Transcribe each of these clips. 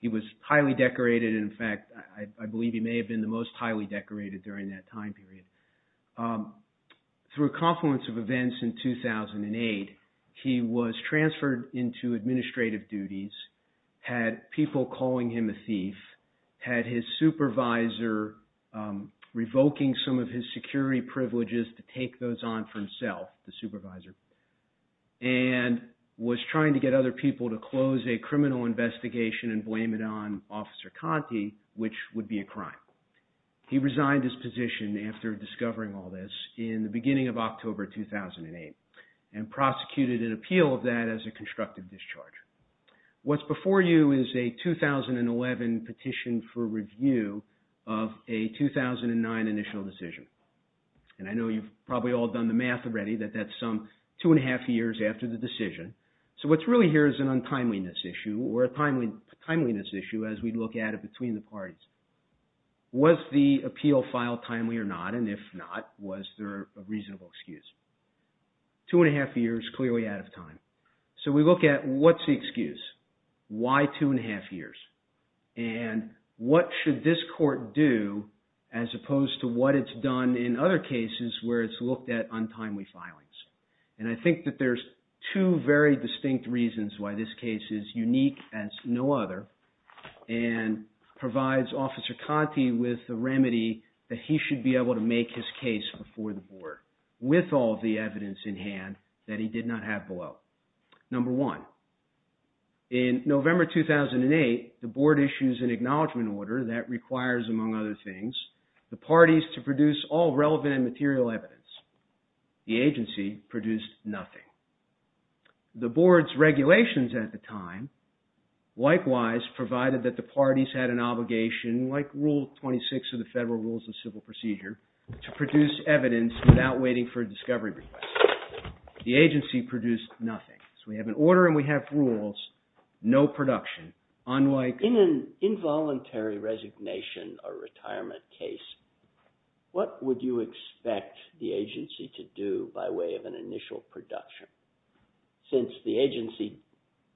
He was highly decorated. In fact, I believe he may have been the most highly decorated during that time period. Through a confluence of events in 2008, he was transferred into administrative duties, had people calling him a thief, had his supervisor revoking some of his security privileges to take those on for himself, the supervisor, and was trying to get other people to close a criminal investigation and blame it on Officer Conti, which would be a crime. He resigned his position after discovering all this in the beginning of October 2008 and prosecuted an appeal of that as a constructive discharge. What's before you is a 2011 petition for review of a 2009 initial decision. And I know you've probably all done the math already that that's some two and a half years after the decision. So what's really here is an untimeliness issue or a timeliness issue as we look at it between the parties. Was the appeal filed timely or not? And if not, was there a reasonable excuse? Two and a half years, clearly out of time. So we look at what's the excuse? Why two and a half years? And what should this court do as opposed to what it's done in other cases where it's looked at untimely filings? And I think that there's two very distinct reasons why this case is unique as no other and provides Officer Conti with the remedy that he should be able to make his case before the board with all the evidence in hand that he did not have below. Number one, in November 2008, the board issues an acknowledgement order that requires, among other things, the parties to produce all relevant and material evidence. The agency produced nothing. The board's regulations at the time likewise provided that the parties had an obligation like Rule 26 of the Federal Rules of Civil Procedure to produce evidence without waiting for a discovery request. The agency produced nothing. So we have an order and we have rules, no production. Unlike... In an involuntary resignation or retirement case, what would you expect the agency to do by way of an initial production? Since the agency,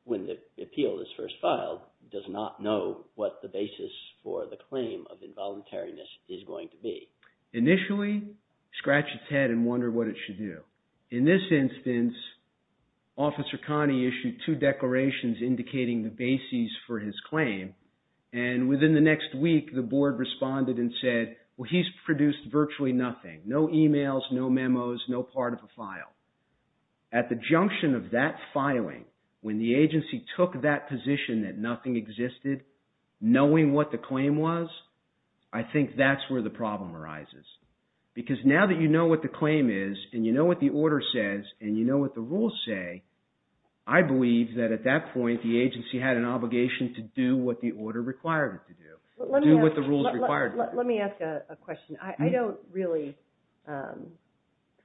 when the appeal is first filed, does not know what the basis for the claim of involuntariness is going to be. Initially, scratch its head and wonder what it should do. In this instance, Officer Conti issued two declarations indicating the basis for his claim and within the next week, the board responded and said, well, he's produced virtually nothing. No emails, no memos, no part of the file. At the junction of that filing, when the agency took that position that nothing existed, knowing what the claim was, I think that's where the problem arises. Because now that you know what the claim is and you know what the order says and you know what the rules say, I believe that at that point the agency had an obligation to do what the order required it to do, do what the rules required it to do. Let me ask a question. I don't really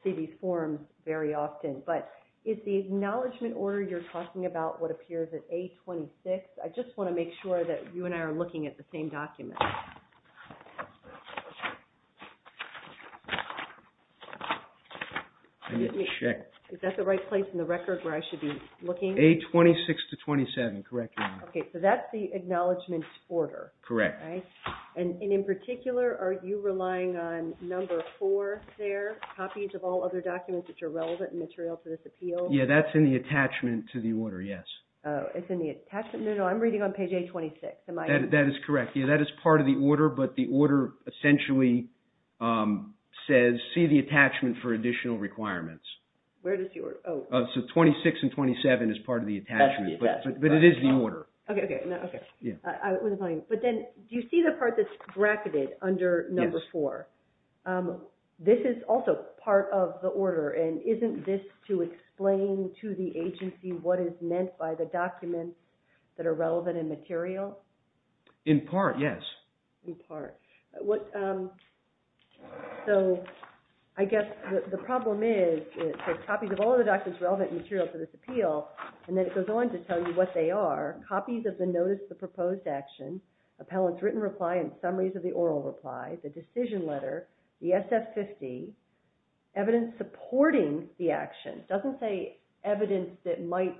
see these forms very often, but is the acknowledgement order you're talking about what appears in A-26? I just want to make sure that you and I are looking at the same document. Is that the right place in the record where I should be looking? A-26 to 27, correct. Okay, so that's the acknowledgement order. Correct. And in particular, are you relying on number four there, copies of all other documents that are relevant and material to this appeal? Yeah, that's in the attachment to the order, yes. Oh, it's in the attachment. No, no, I'm reading on page A-26. That is correct. Yeah, that is part of the order, but the order essentially says, see the attachment for additional requirements. So 26 and 27 is part of the attachment, but it is the order. Okay, okay. But then, do you see the part that's bracketed under number four? This is also part of the order, and isn't this to explain to the agency what is meant by the documents that are relevant and material? In part, yes. In part. So I guess the problem is, there's copies of all of the documents relevant and material to this appeal, and then it goes on to tell you what they are, copies of the notice of proposed action, appellant's written reply and summaries of the oral reply, the SF-50, evidence supporting the action. It doesn't say evidence that might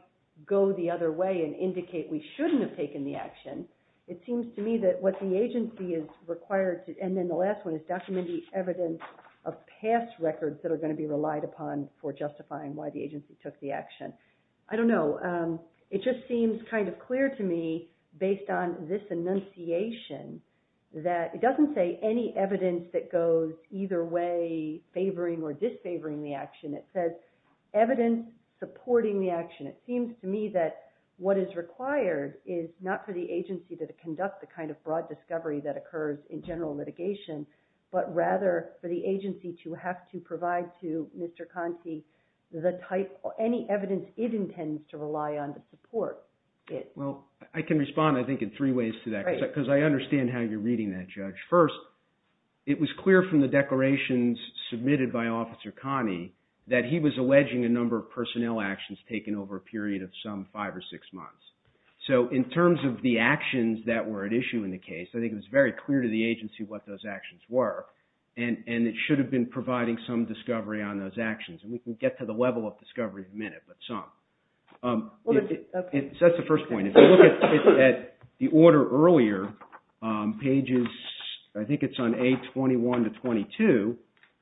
go the other way and indicate we shouldn't have taken the action. It seems to me that what the agency is required to, and then the last one is document the evidence of past records that are going to be relied upon for justifying why the agency took the action. I don't know. It just seems kind of clear to me, based on this enunciation, that it doesn't say any evidence that goes either way favoring or disfavoring the action. It says evidence supporting the action. It seems to me that what is required is not for the agency to conduct the kind of broad discovery that occurs in general litigation, but rather for the agency to have to provide to Mr. Conte the type, any evidence it intends to rely on to support it. Well, I can respond, I think, in three ways to that, because I understand how you're reading that, Judge. First, it was clear from the declarations submitted by Officer Connie that he was alleging a number of personnel actions taken over a period of some five or six months. So, in terms of the actions that were at issue in the case, I think it was very clear to the agency what those actions were, and it should have been providing some discovery on those actions. And we can get to the level of discovery in a minute, but some. That's the first point. If you look at the order earlier, pages, I think it's on A21 to 22,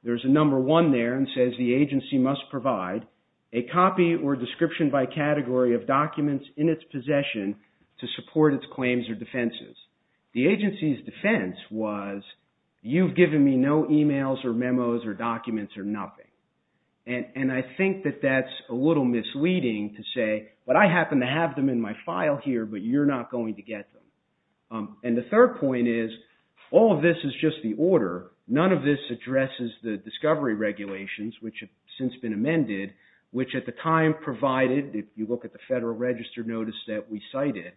there's a number one there that says the agency must provide a copy or description by category of documents in its possession to support its claims or defenses. The agency's defense was, you've given me no emails or memos or documents or nothing. And I think that that's a little misleading to say, but I happen to have them in my file here, but you're not going to get them. And the third point is, all of this is just the order. None of this addresses the discovery regulations, which have since been amended, which at the time provided, if you look at the Federal Register notice that we cited,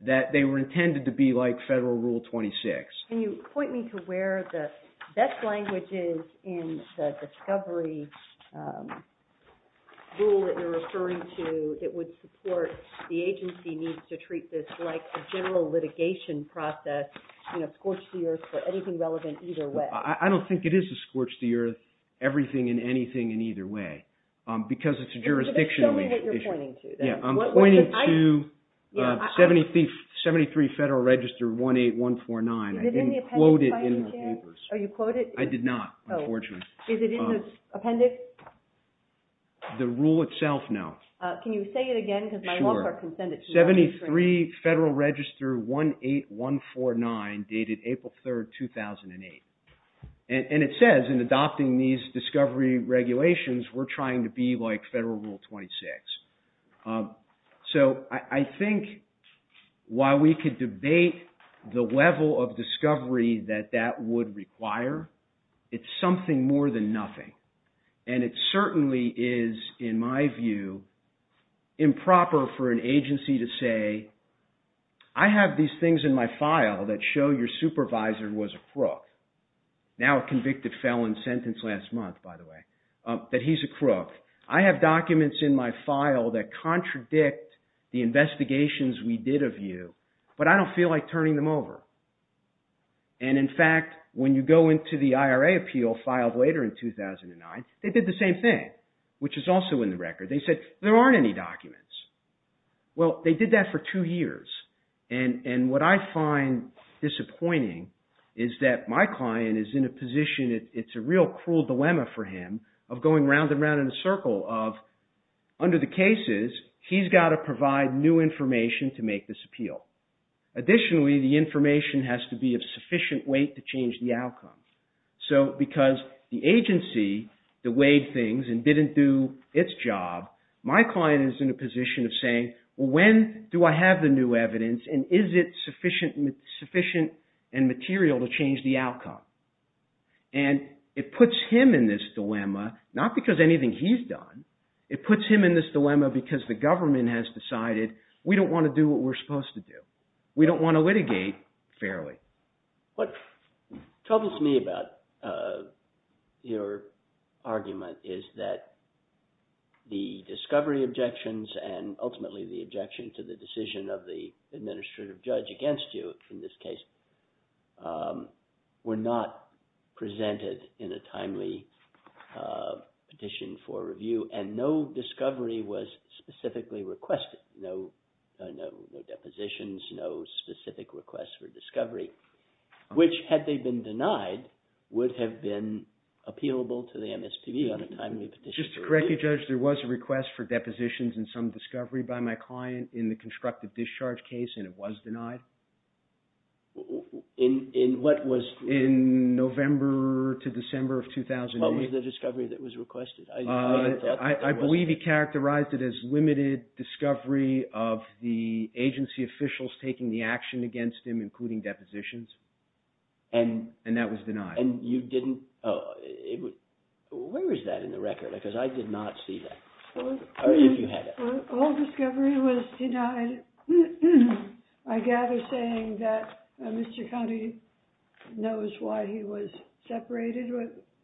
that they were intended to be like Federal Rule 26. Can you point me to where the best language is in the discovery rule that you're referring to that would support the agency needs to treat this like a general litigation process, you know, scorch the earth for anything relevant either way. I don't think it is a scorch the earth, everything and anything in either way. Because it's a jurisdictional issue. Show me what you're pointing to. I'm pointing to 73 Federal Register 18149. I didn't quote it in the papers. Are you quoting it? I did not, unfortunately. Is it in the appendix? The rule itself, no. Can you say it again? Sure. 73 Federal Register 18149, dated April 3rd, 2008. And it says in adopting these discovery regulations, we're trying to be like Federal Rule 26. So I think while we could debate the level of discovery that that would require, it's something more than nothing. And it certainly is, in my view, improper for an agency to say, I have these things in my file that show your supervisor was a crook. Now a convicted felon sentence last month, by the way. But he's a crook. I have documents in my file that contradict the investigations we did of you, but I don't feel like turning them over. And in fact, when you go into the IRA appeal filed later in 2009, they did the same thing, which is also in the record. They said, there aren't any documents. Well, they did that for two years. And what I find disappointing is that my client is in a position, it's a real cruel dilemma for him, of going round and round in a circle of, under the cases, he's got to provide new information to make this appeal. Additionally, the information has to be of sufficient weight to change the outcome. So because the agency deweyed things and didn't do its job, my client is in a position of saying, well, when do I have the new evidence, and is it sufficient and material to change the outcome? And it puts him in this dilemma, not because anything he's done. It puts him in this dilemma because the government has decided, we don't want to do what we're supposed to do. We don't want to litigate fairly. What troubles me about your argument is that the discovery objections and ultimately the objection to the decision of the administrative judge against you, in this case, were not presented in a timely petition for review, and no discovery was specifically requested. No depositions, no specific requests for discovery, which had they been denied would have been appealable to the MSPB on a timely petition. Just to correct you, Judge, there was a request for depositions and some discovery by my client in the constructive discharge case, and it was denied in November to December of 2008. What was the discovery that was requested? I believe he characterized it as limited discovery of the agency officials taking the action against him, including depositions, and that was denied. And you didn't – where is that in the record? Because I did not see that. All discovery was denied. I gather saying that Mr. Connolly knows why he was separated.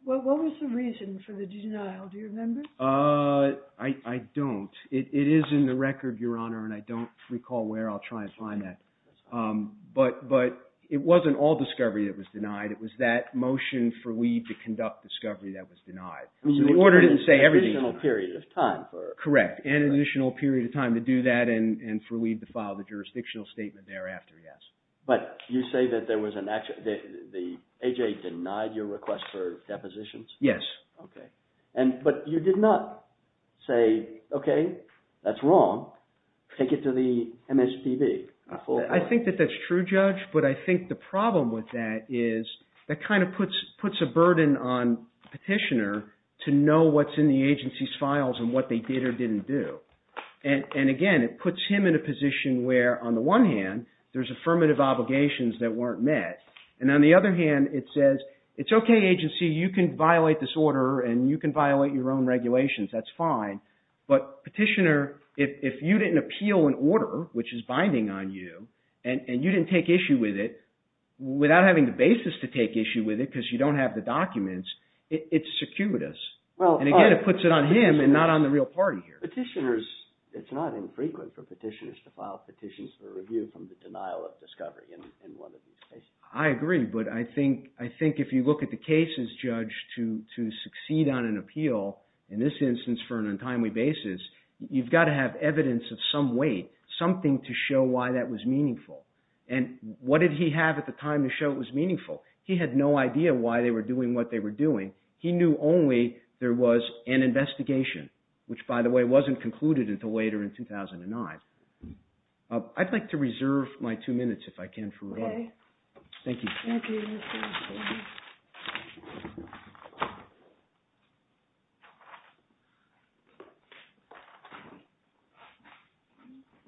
What was the reason for the denial? Do you remember? I don't. It is in the record, Your Honor, and I don't recall where. I'll try and find that. But it wasn't all discovery that was denied. It was that motion for we to conduct discovery that was denied. The order didn't say everything. And an additional period of time for – Correct, and an additional period of time to do that and for we to file the jurisdictional statement thereafter, yes. But you say that there was an – the AJA denied your request for depositions? Yes. Okay. But you did not say, okay, that's wrong, take it to the MSPB. I think that that's true, Judge, but I think the problem with that is that kind of puts a burden on Petitioner to know what's in the agency's files and what they did or didn't do. And, again, it puts him in a position where, on the one hand, there's affirmative obligations that weren't met. And on the other hand, it says, it's okay, agency, you can violate this order and you can violate your own regulations, that's fine. But Petitioner, if you didn't appeal an order, which is binding on you, and you didn't take issue with it, without having the basis to take issue with it because you don't have the documents, it's circuitous. And, again, it puts it on him and not on the real party here. Petitioners – it's not infrequent for petitioners to file petitions for review from the denial of discovery in one of these cases. I agree, but I think if you look at the cases, Judge, to succeed on an appeal, in this instance for an untimely basis, you've got to have evidence of some weight, something to show why that was meaningful. And what did he have at the time to show it was meaningful? He had no idea why they were doing what they were doing. He knew only there was an investigation, which, by the way, wasn't concluded until later in 2009. I'd like to reserve my two minutes, if I can, for a moment. Thank you.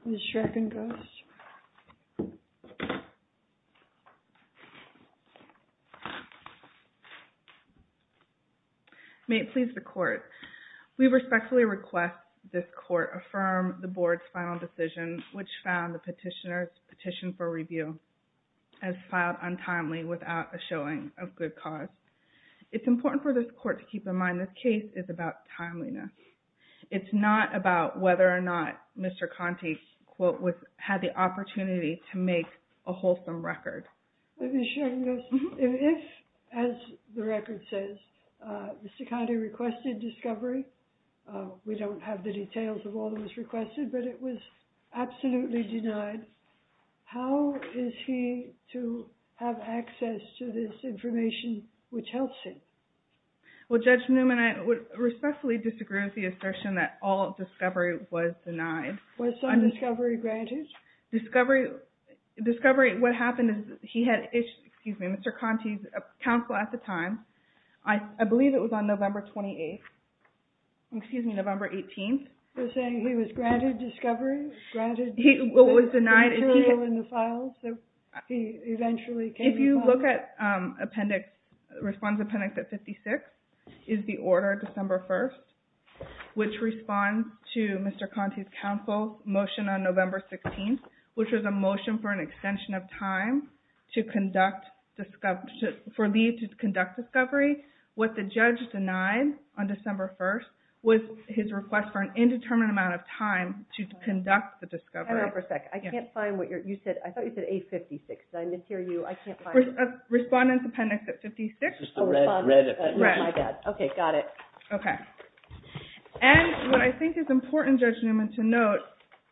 Ms. Schreckengosch. May it please the Court. We respectfully request this Court affirm the Board's final decision, which found the petitioner's petition for review as filed untimely without a showing of good cause. It's important for this Court to keep in mind this case is about timeliness. It's not about whether or not Mr. Conte had the opportunity to make a wholesome record. Ms. Schreckengosch, if, as the record says, Mr. Conte requested discovery, we don't have the details of all that was requested, but it was absolutely denied, how is he to have access to this information which helps him? Well, Judge Newman, I respectfully disagree with the assertion that all discovery was denied. Was some discovery granted? Discovery, what happened is he had, excuse me, Mr. Conte's counsel at the time, I believe it was on November 28th, excuse me, November 18th. He was saying he was granted discovery, granted the material in the files, so he eventually came to terms. The response appendix at 56 is the order December 1st, which responds to Mr. Conte's counsel's motion on November 16th, which was a motion for an extension of time for Lee to conduct discovery. What the judge denied on December 1st was his request for an indeterminate amount of time to conduct the discovery. Hang on for a second, I can't find what you said, I thought you said A56, because I didn't hear you, I can't find it. Respondent's appendix at 56. It's the red, my bad. Okay, got it. Okay. And what I think is important, Judge Newman, to note,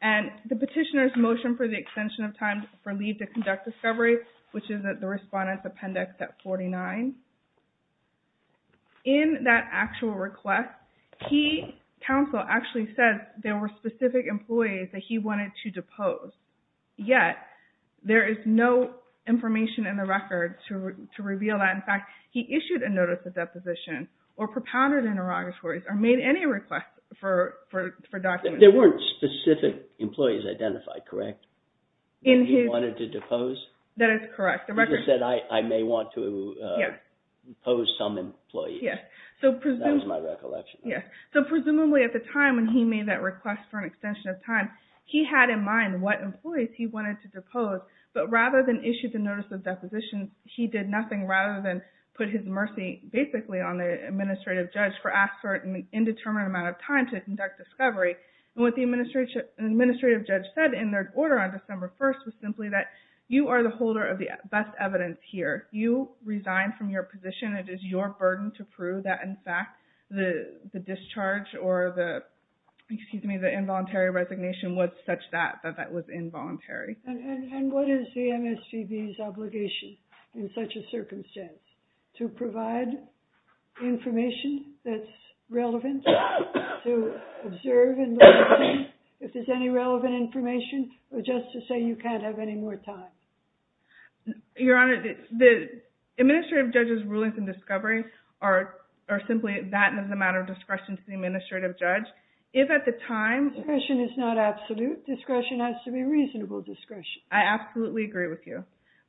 and the petitioner's motion for the extension of time for Lee to conduct discovery, which is the respondent's appendix at 49, in that actual request, he, counsel, actually says there were specific employees that he wanted to depose, yet there is no information in the record to reveal that. In fact, he issued a notice of deposition, or propounded interrogatories, or made any request for documents. There weren't specific employees identified, correct? That he wanted to depose? That is correct. He just said, I may want to depose some employees. That was my recollection. So presumably at the time when he made that request for an extension of time, he had in mind what employees he wanted to depose, but rather than issue the notice of deposition, he did nothing rather than put his mercy basically on the administrative judge for asking for an indeterminate amount of time to conduct discovery. And what the administrative judge said in their order on December 1st was simply that you are the holder of the best evidence here. If you resign from your position, it is your burden to prove that, in fact, the discharge or the, excuse me, the involuntary resignation was such that that that was involuntary. And what is the MSPB's obligation in such a circumstance, to provide information that's relevant to observe and look at, if there's any relevant information, or just to say you can't have any more time? Your Honor, the administrative judge's rulings in discovery are simply that it is a matter of discretion to the administrative judge. If at the time... Discretion is not absolute. Discretion has to be reasonable discretion. I absolutely agree with you.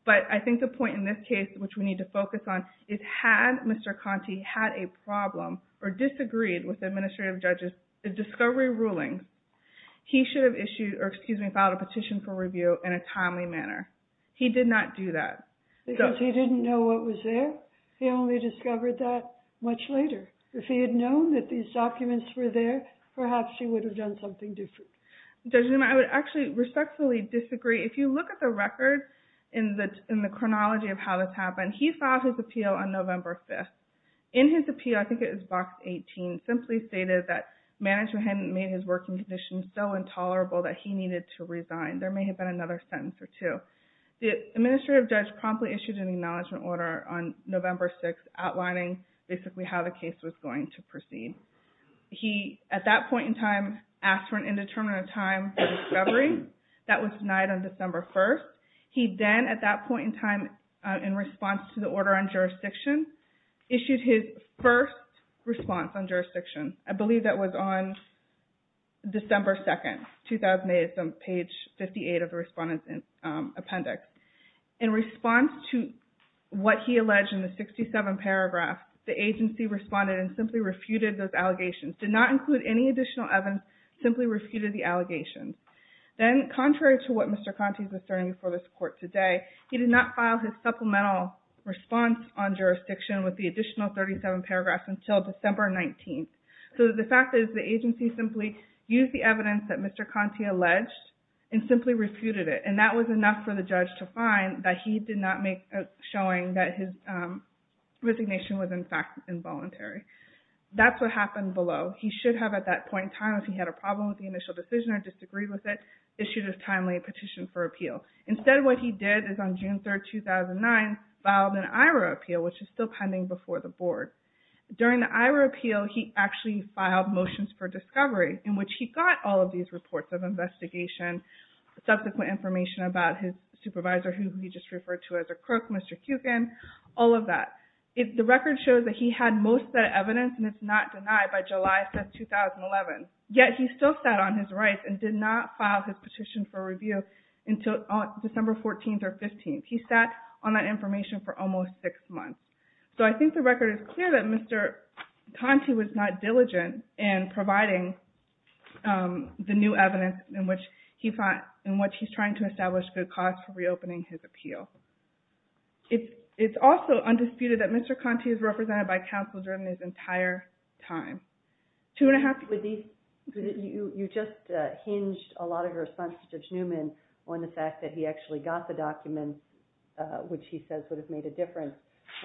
But I think the point in this case, which we need to focus on, is had Mr. Conte had a problem or disagreed with the administrative judge's discovery ruling, he should have issued, or excuse me, filed a petition for review in a timely manner. He did not do that. Because he didn't know what was there. He only discovered that much later. If he had known that these documents were there, perhaps he would have done something different. Judge Newman, I would actually respectfully disagree. If you look at the record in the chronology of how this happened, he filed his appeal on November 5th. In his appeal, I think it was box 18, simply stated that management hadn't made his working conditions so there may have been another sentence or two. The administrative judge promptly issued an acknowledgement order on November 6th outlining basically how the case was going to proceed. He, at that point in time, asked for an indeterminate time for discovery. That was denied on December 1st. He then, at that point in time, in response to the order on jurisdiction, issued his first response on jurisdiction. I believe that was on December 2nd, 2008. It's on page 58 of the Respondent's Appendix. In response to what he alleged in the 67th paragraph, the agency responded and simply refuted those allegations. Did not include any additional evidence, simply refuted the allegations. Then, contrary to what Mr. Conte was turning before this court today, he did not file his supplemental response on jurisdiction with the additional 37 paragraphs until December 19th. The fact is the agency simply used the evidence that Mr. Conte alleged and simply refuted it. That was enough for the judge to find that he did not make a showing that his resignation was, in fact, involuntary. That's what happened below. He should have, at that point in time, if he had a problem with the initial decision or disagreed with it, issued a timely petition for appeal. Instead, what he did is on June 3rd, 2009, filed an IRA appeal, which is still pending before the board. During the IRA appeal, he actually filed motions for discovery, in which he got all of these reports of investigation, subsequent information about his supervisor, who he just referred to as a crook, Mr. Cukin, all of that. The record shows that he had most of that evidence, and it's not denied by July of 2011. Yet, he still sat on his rights and did not file his petition for review until December 14th or 15th. He sat on that information for almost six months. So, I think the record is clear that Mr. Conte was not diligent in providing the new evidence in which he's trying to establish good cause for reopening his appeal. It's also undisputed that Mr. Conte is represented by counsel during his entire time. Two and a half... You just hinged a lot of your response to Judge Newman on the fact that he actually got the documents, which he says sort of made a difference,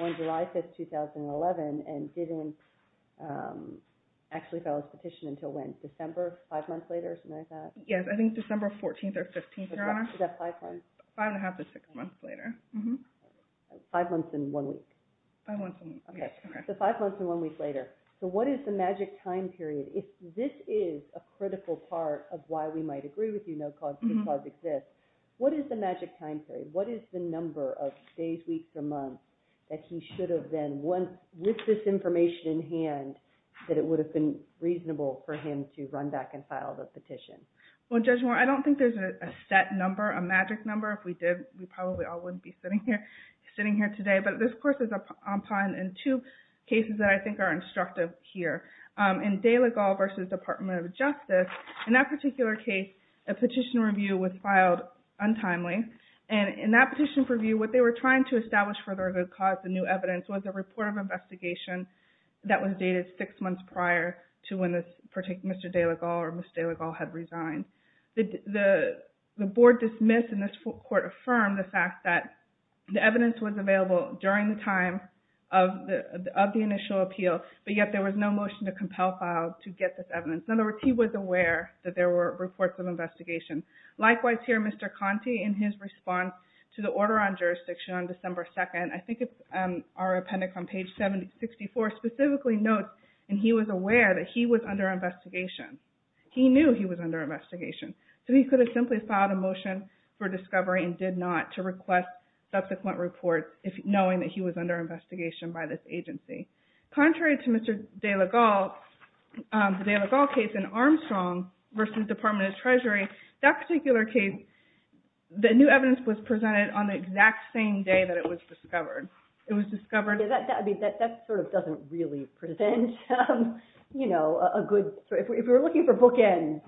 on July 5th, 2011, and didn't actually file his petition until when? December, five months later, something like that? Yes, I think December 14th or 15th, Your Honor. Was that five months? Five and a half to six months later. Five months and one week? Five months and one week. So, five months and one week later. So, what is the magic time period? If this is a critical part of why we might agree with you, no cause could cause exist, what is the magic time period? What is the number of days, weeks, or months that he should have then, with this information in hand, that it would have been reasonable for him to run back and file the petition? Well, Judge Moore, I don't think there's a set number, a magic number. If we did, we probably all wouldn't be sitting here today. But this, of course, is a pom-pom in two cases that I think are instructive here. In De La Galle v. Department of Justice, in that particular case, a petition review was filed untimely, and in that petition review, what they were trying to establish for their good cause, the new evidence, was a report of investigation that was dated six months prior to when Mr. De La Galle or Ms. De La Galle had resigned. The board dismissed and this court affirmed the fact that the evidence was available during the time of the initial appeal, but yet there was no motion to compel file to get this evidence. In other words, he was aware that there were reports of investigation. Likewise here, Mr. Conte, in his response to the order on jurisdiction on December 2nd, I think it's our appendix on page 64, specifically notes that he was aware that he was under investigation. He knew he was under investigation, so he could have simply filed a motion for discovery and did not to request subsequent reports, knowing that he was under investigation by this agency. Contrary to Mr. De La Galle, the De La Galle case in Armstrong v. Department of Treasury, that particular case, the new evidence was presented on the exact same day that it was discovered. It was discovered... Yeah, that sort of doesn't really present, you know, a good... If we were looking for bookends,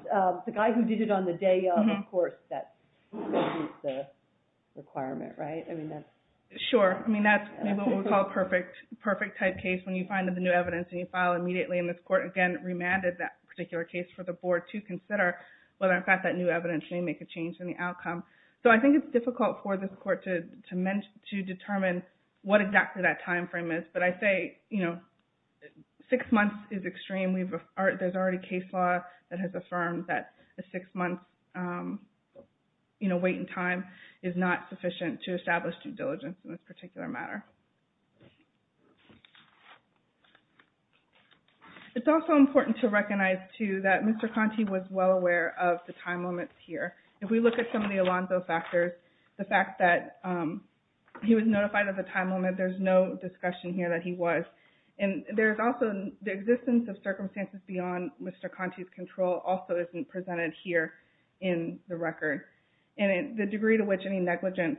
the guy who did it on the day of, of course, that meets the requirement, right? I mean, that's... Sure. I mean, that's what we call a perfect type case when you find the new evidence and you file immediately. And this court, again, remanded that particular case for the board to consider whether, in fact, that new evidence may make a change in the outcome. So I think it's difficult for this court to determine what exactly that time frame is. But I say, you know, six months is extreme. There's already case law that has affirmed that a six-month, you know, wait in time is not sufficient to establish due diligence in this particular matter. It's also important to recognize, too, that Mr. Conte was well aware of the time limits here. If we look at some of the Alonzo factors, the fact that he was notified of the time limit, there's no discussion here that he was. And there's also the existence of circumstances beyond Mr. Conte's control also isn't presented here in the record. And the degree to which any negligence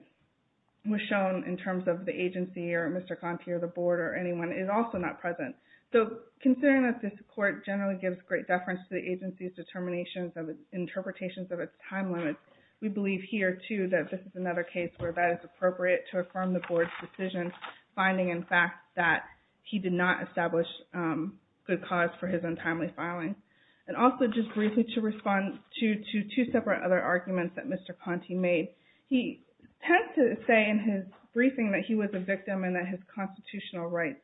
was shown in terms of the agency or Mr. Conte or the board or anyone is also not present. So considering that this court generally gives great deference to the agency's determinations of interpretations of its time limits, we believe here, too, that this is another case where that is appropriate to affirm the board's decision, finding, in fact, that he did not establish good cause for his untimely filing. And also just briefly to respond to two separate other arguments that Mr. Conte made. He tends to say in his briefing that he was a victim and that his constitutional rights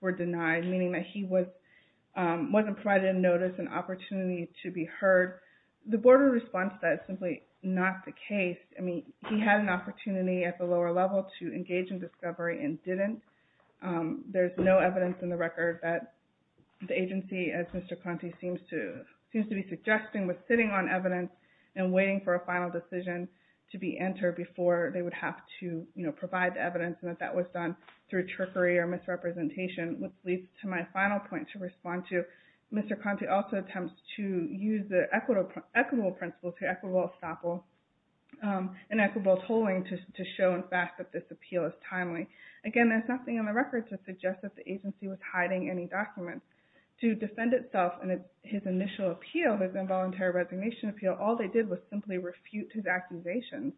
were denied, meaning that he wasn't provided a notice, an opportunity to be heard. The board would respond to that as simply not the case. I mean, he had an opportunity at the lower level to engage in discovery and didn't. There's no evidence in the record that the agency, as Mr. Conte seems to be suggesting, was sitting on evidence and waiting for a final decision to be entered before they would have to provide the evidence and that that was done through trickery or misrepresentation, which leads to my final point to respond to. Mr. Conte also attempts to use the equitable principle to equitable estoppel and equitable tolling to show, in fact, that this appeal is timely. Again, there's nothing in the record to suggest that the agency was hiding any documents. To defend itself in his initial appeal, his involuntary resignation appeal, all they did was simply refute his accusations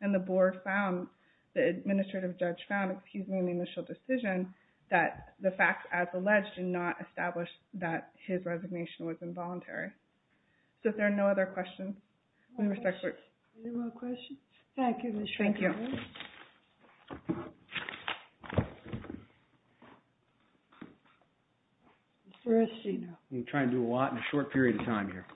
and the board found, the administrative judge found, excuse me, in the initial decision that the facts, as alleged, did not establish that his resignation was involuntary. So if there are no other questions, we will start. Any more questions? Thank you, Mr. Conte. Thank you. Mr. Eschino. I'm going to try and do a lot in a short period of time here.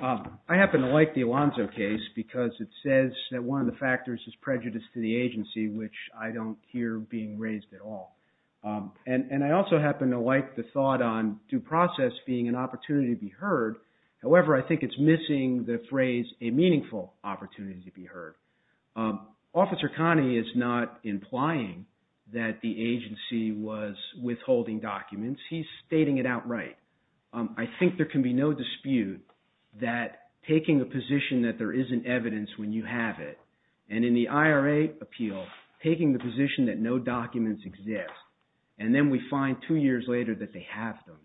I happen to like the Alonzo case because it says that one of the factors is prejudice to the agency, which I don't hear being raised at all. And I also happen to like the thought on due process being an opportunity to be heard. However, I think it's missing the phrase a meaningful opportunity to be heard. Officer Conte is not implying that the agency was withholding documents. He's stating it outright. I think there can be no dispute that taking a position that there isn't evidence when you have it, and in the IRA appeal, taking the position that no documents exist, and then we find two years later that they have them,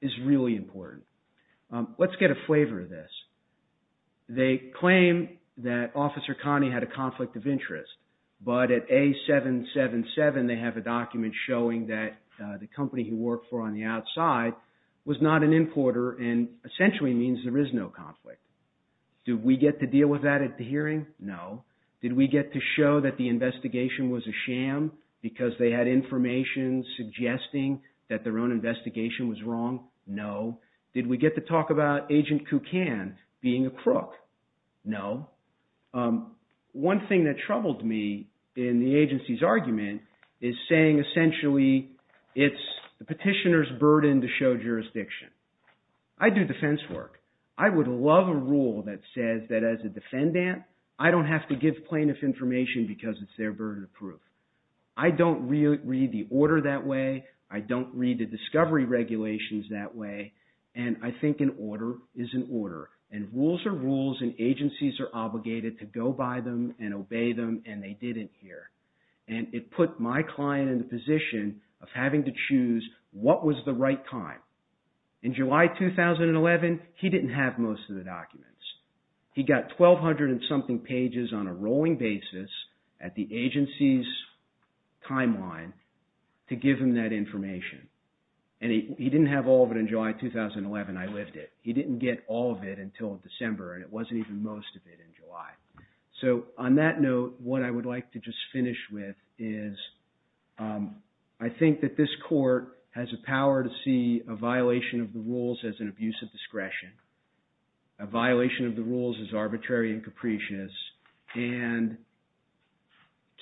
is really important. Let's get a flavor of this. They claim that Officer Conte had a conflict of interest, but at A777, they have a document showing that the company he worked for on the outside was not an importer, and essentially means there is no conflict. Did we get to deal with that at the hearing? No. Did we get to show that the investigation was a sham because they had information suggesting that their own investigation was wrong? No. Did we get to talk about Agent Kukan being a crook? No. One thing that troubled me in the agency's argument is saying essentially it's the petitioner's burden to show jurisdiction. I do defense work. I would love a rule that says that as a defendant, I don't have to give plaintiff information because it's their burden of proof. I don't read the order that way. I don't read the discovery regulations that way, and I think an order is an order, and rules are rules, and agencies are obligated to go by them and obey them, and they did it here, and it put my client in the position of having to choose what was the right time. In July 2011, he didn't have most of the documents. He got 1,200 and something pages on a rolling basis at the agency's timeline to give him that information, and he didn't have all of it in July 2011. I lived it. He didn't get all of it until December, and it wasn't even most of it in July. So on that note, what I would like to just finish with is I think that this court has a power to see a violation of the rules as an abuse of discretion, a violation of the rules as arbitrary and capricious, and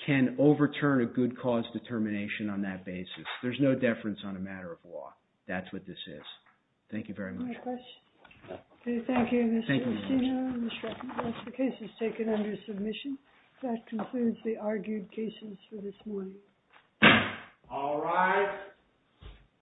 can overturn a good cause determination on that basis. There's no deference on a matter of law. That's what this is. Thank you very much. Any questions? Okay, thank you, Mr. Castino and Mr. Evans. The case is taken under submission. That concludes the argued cases for this morning. All rise.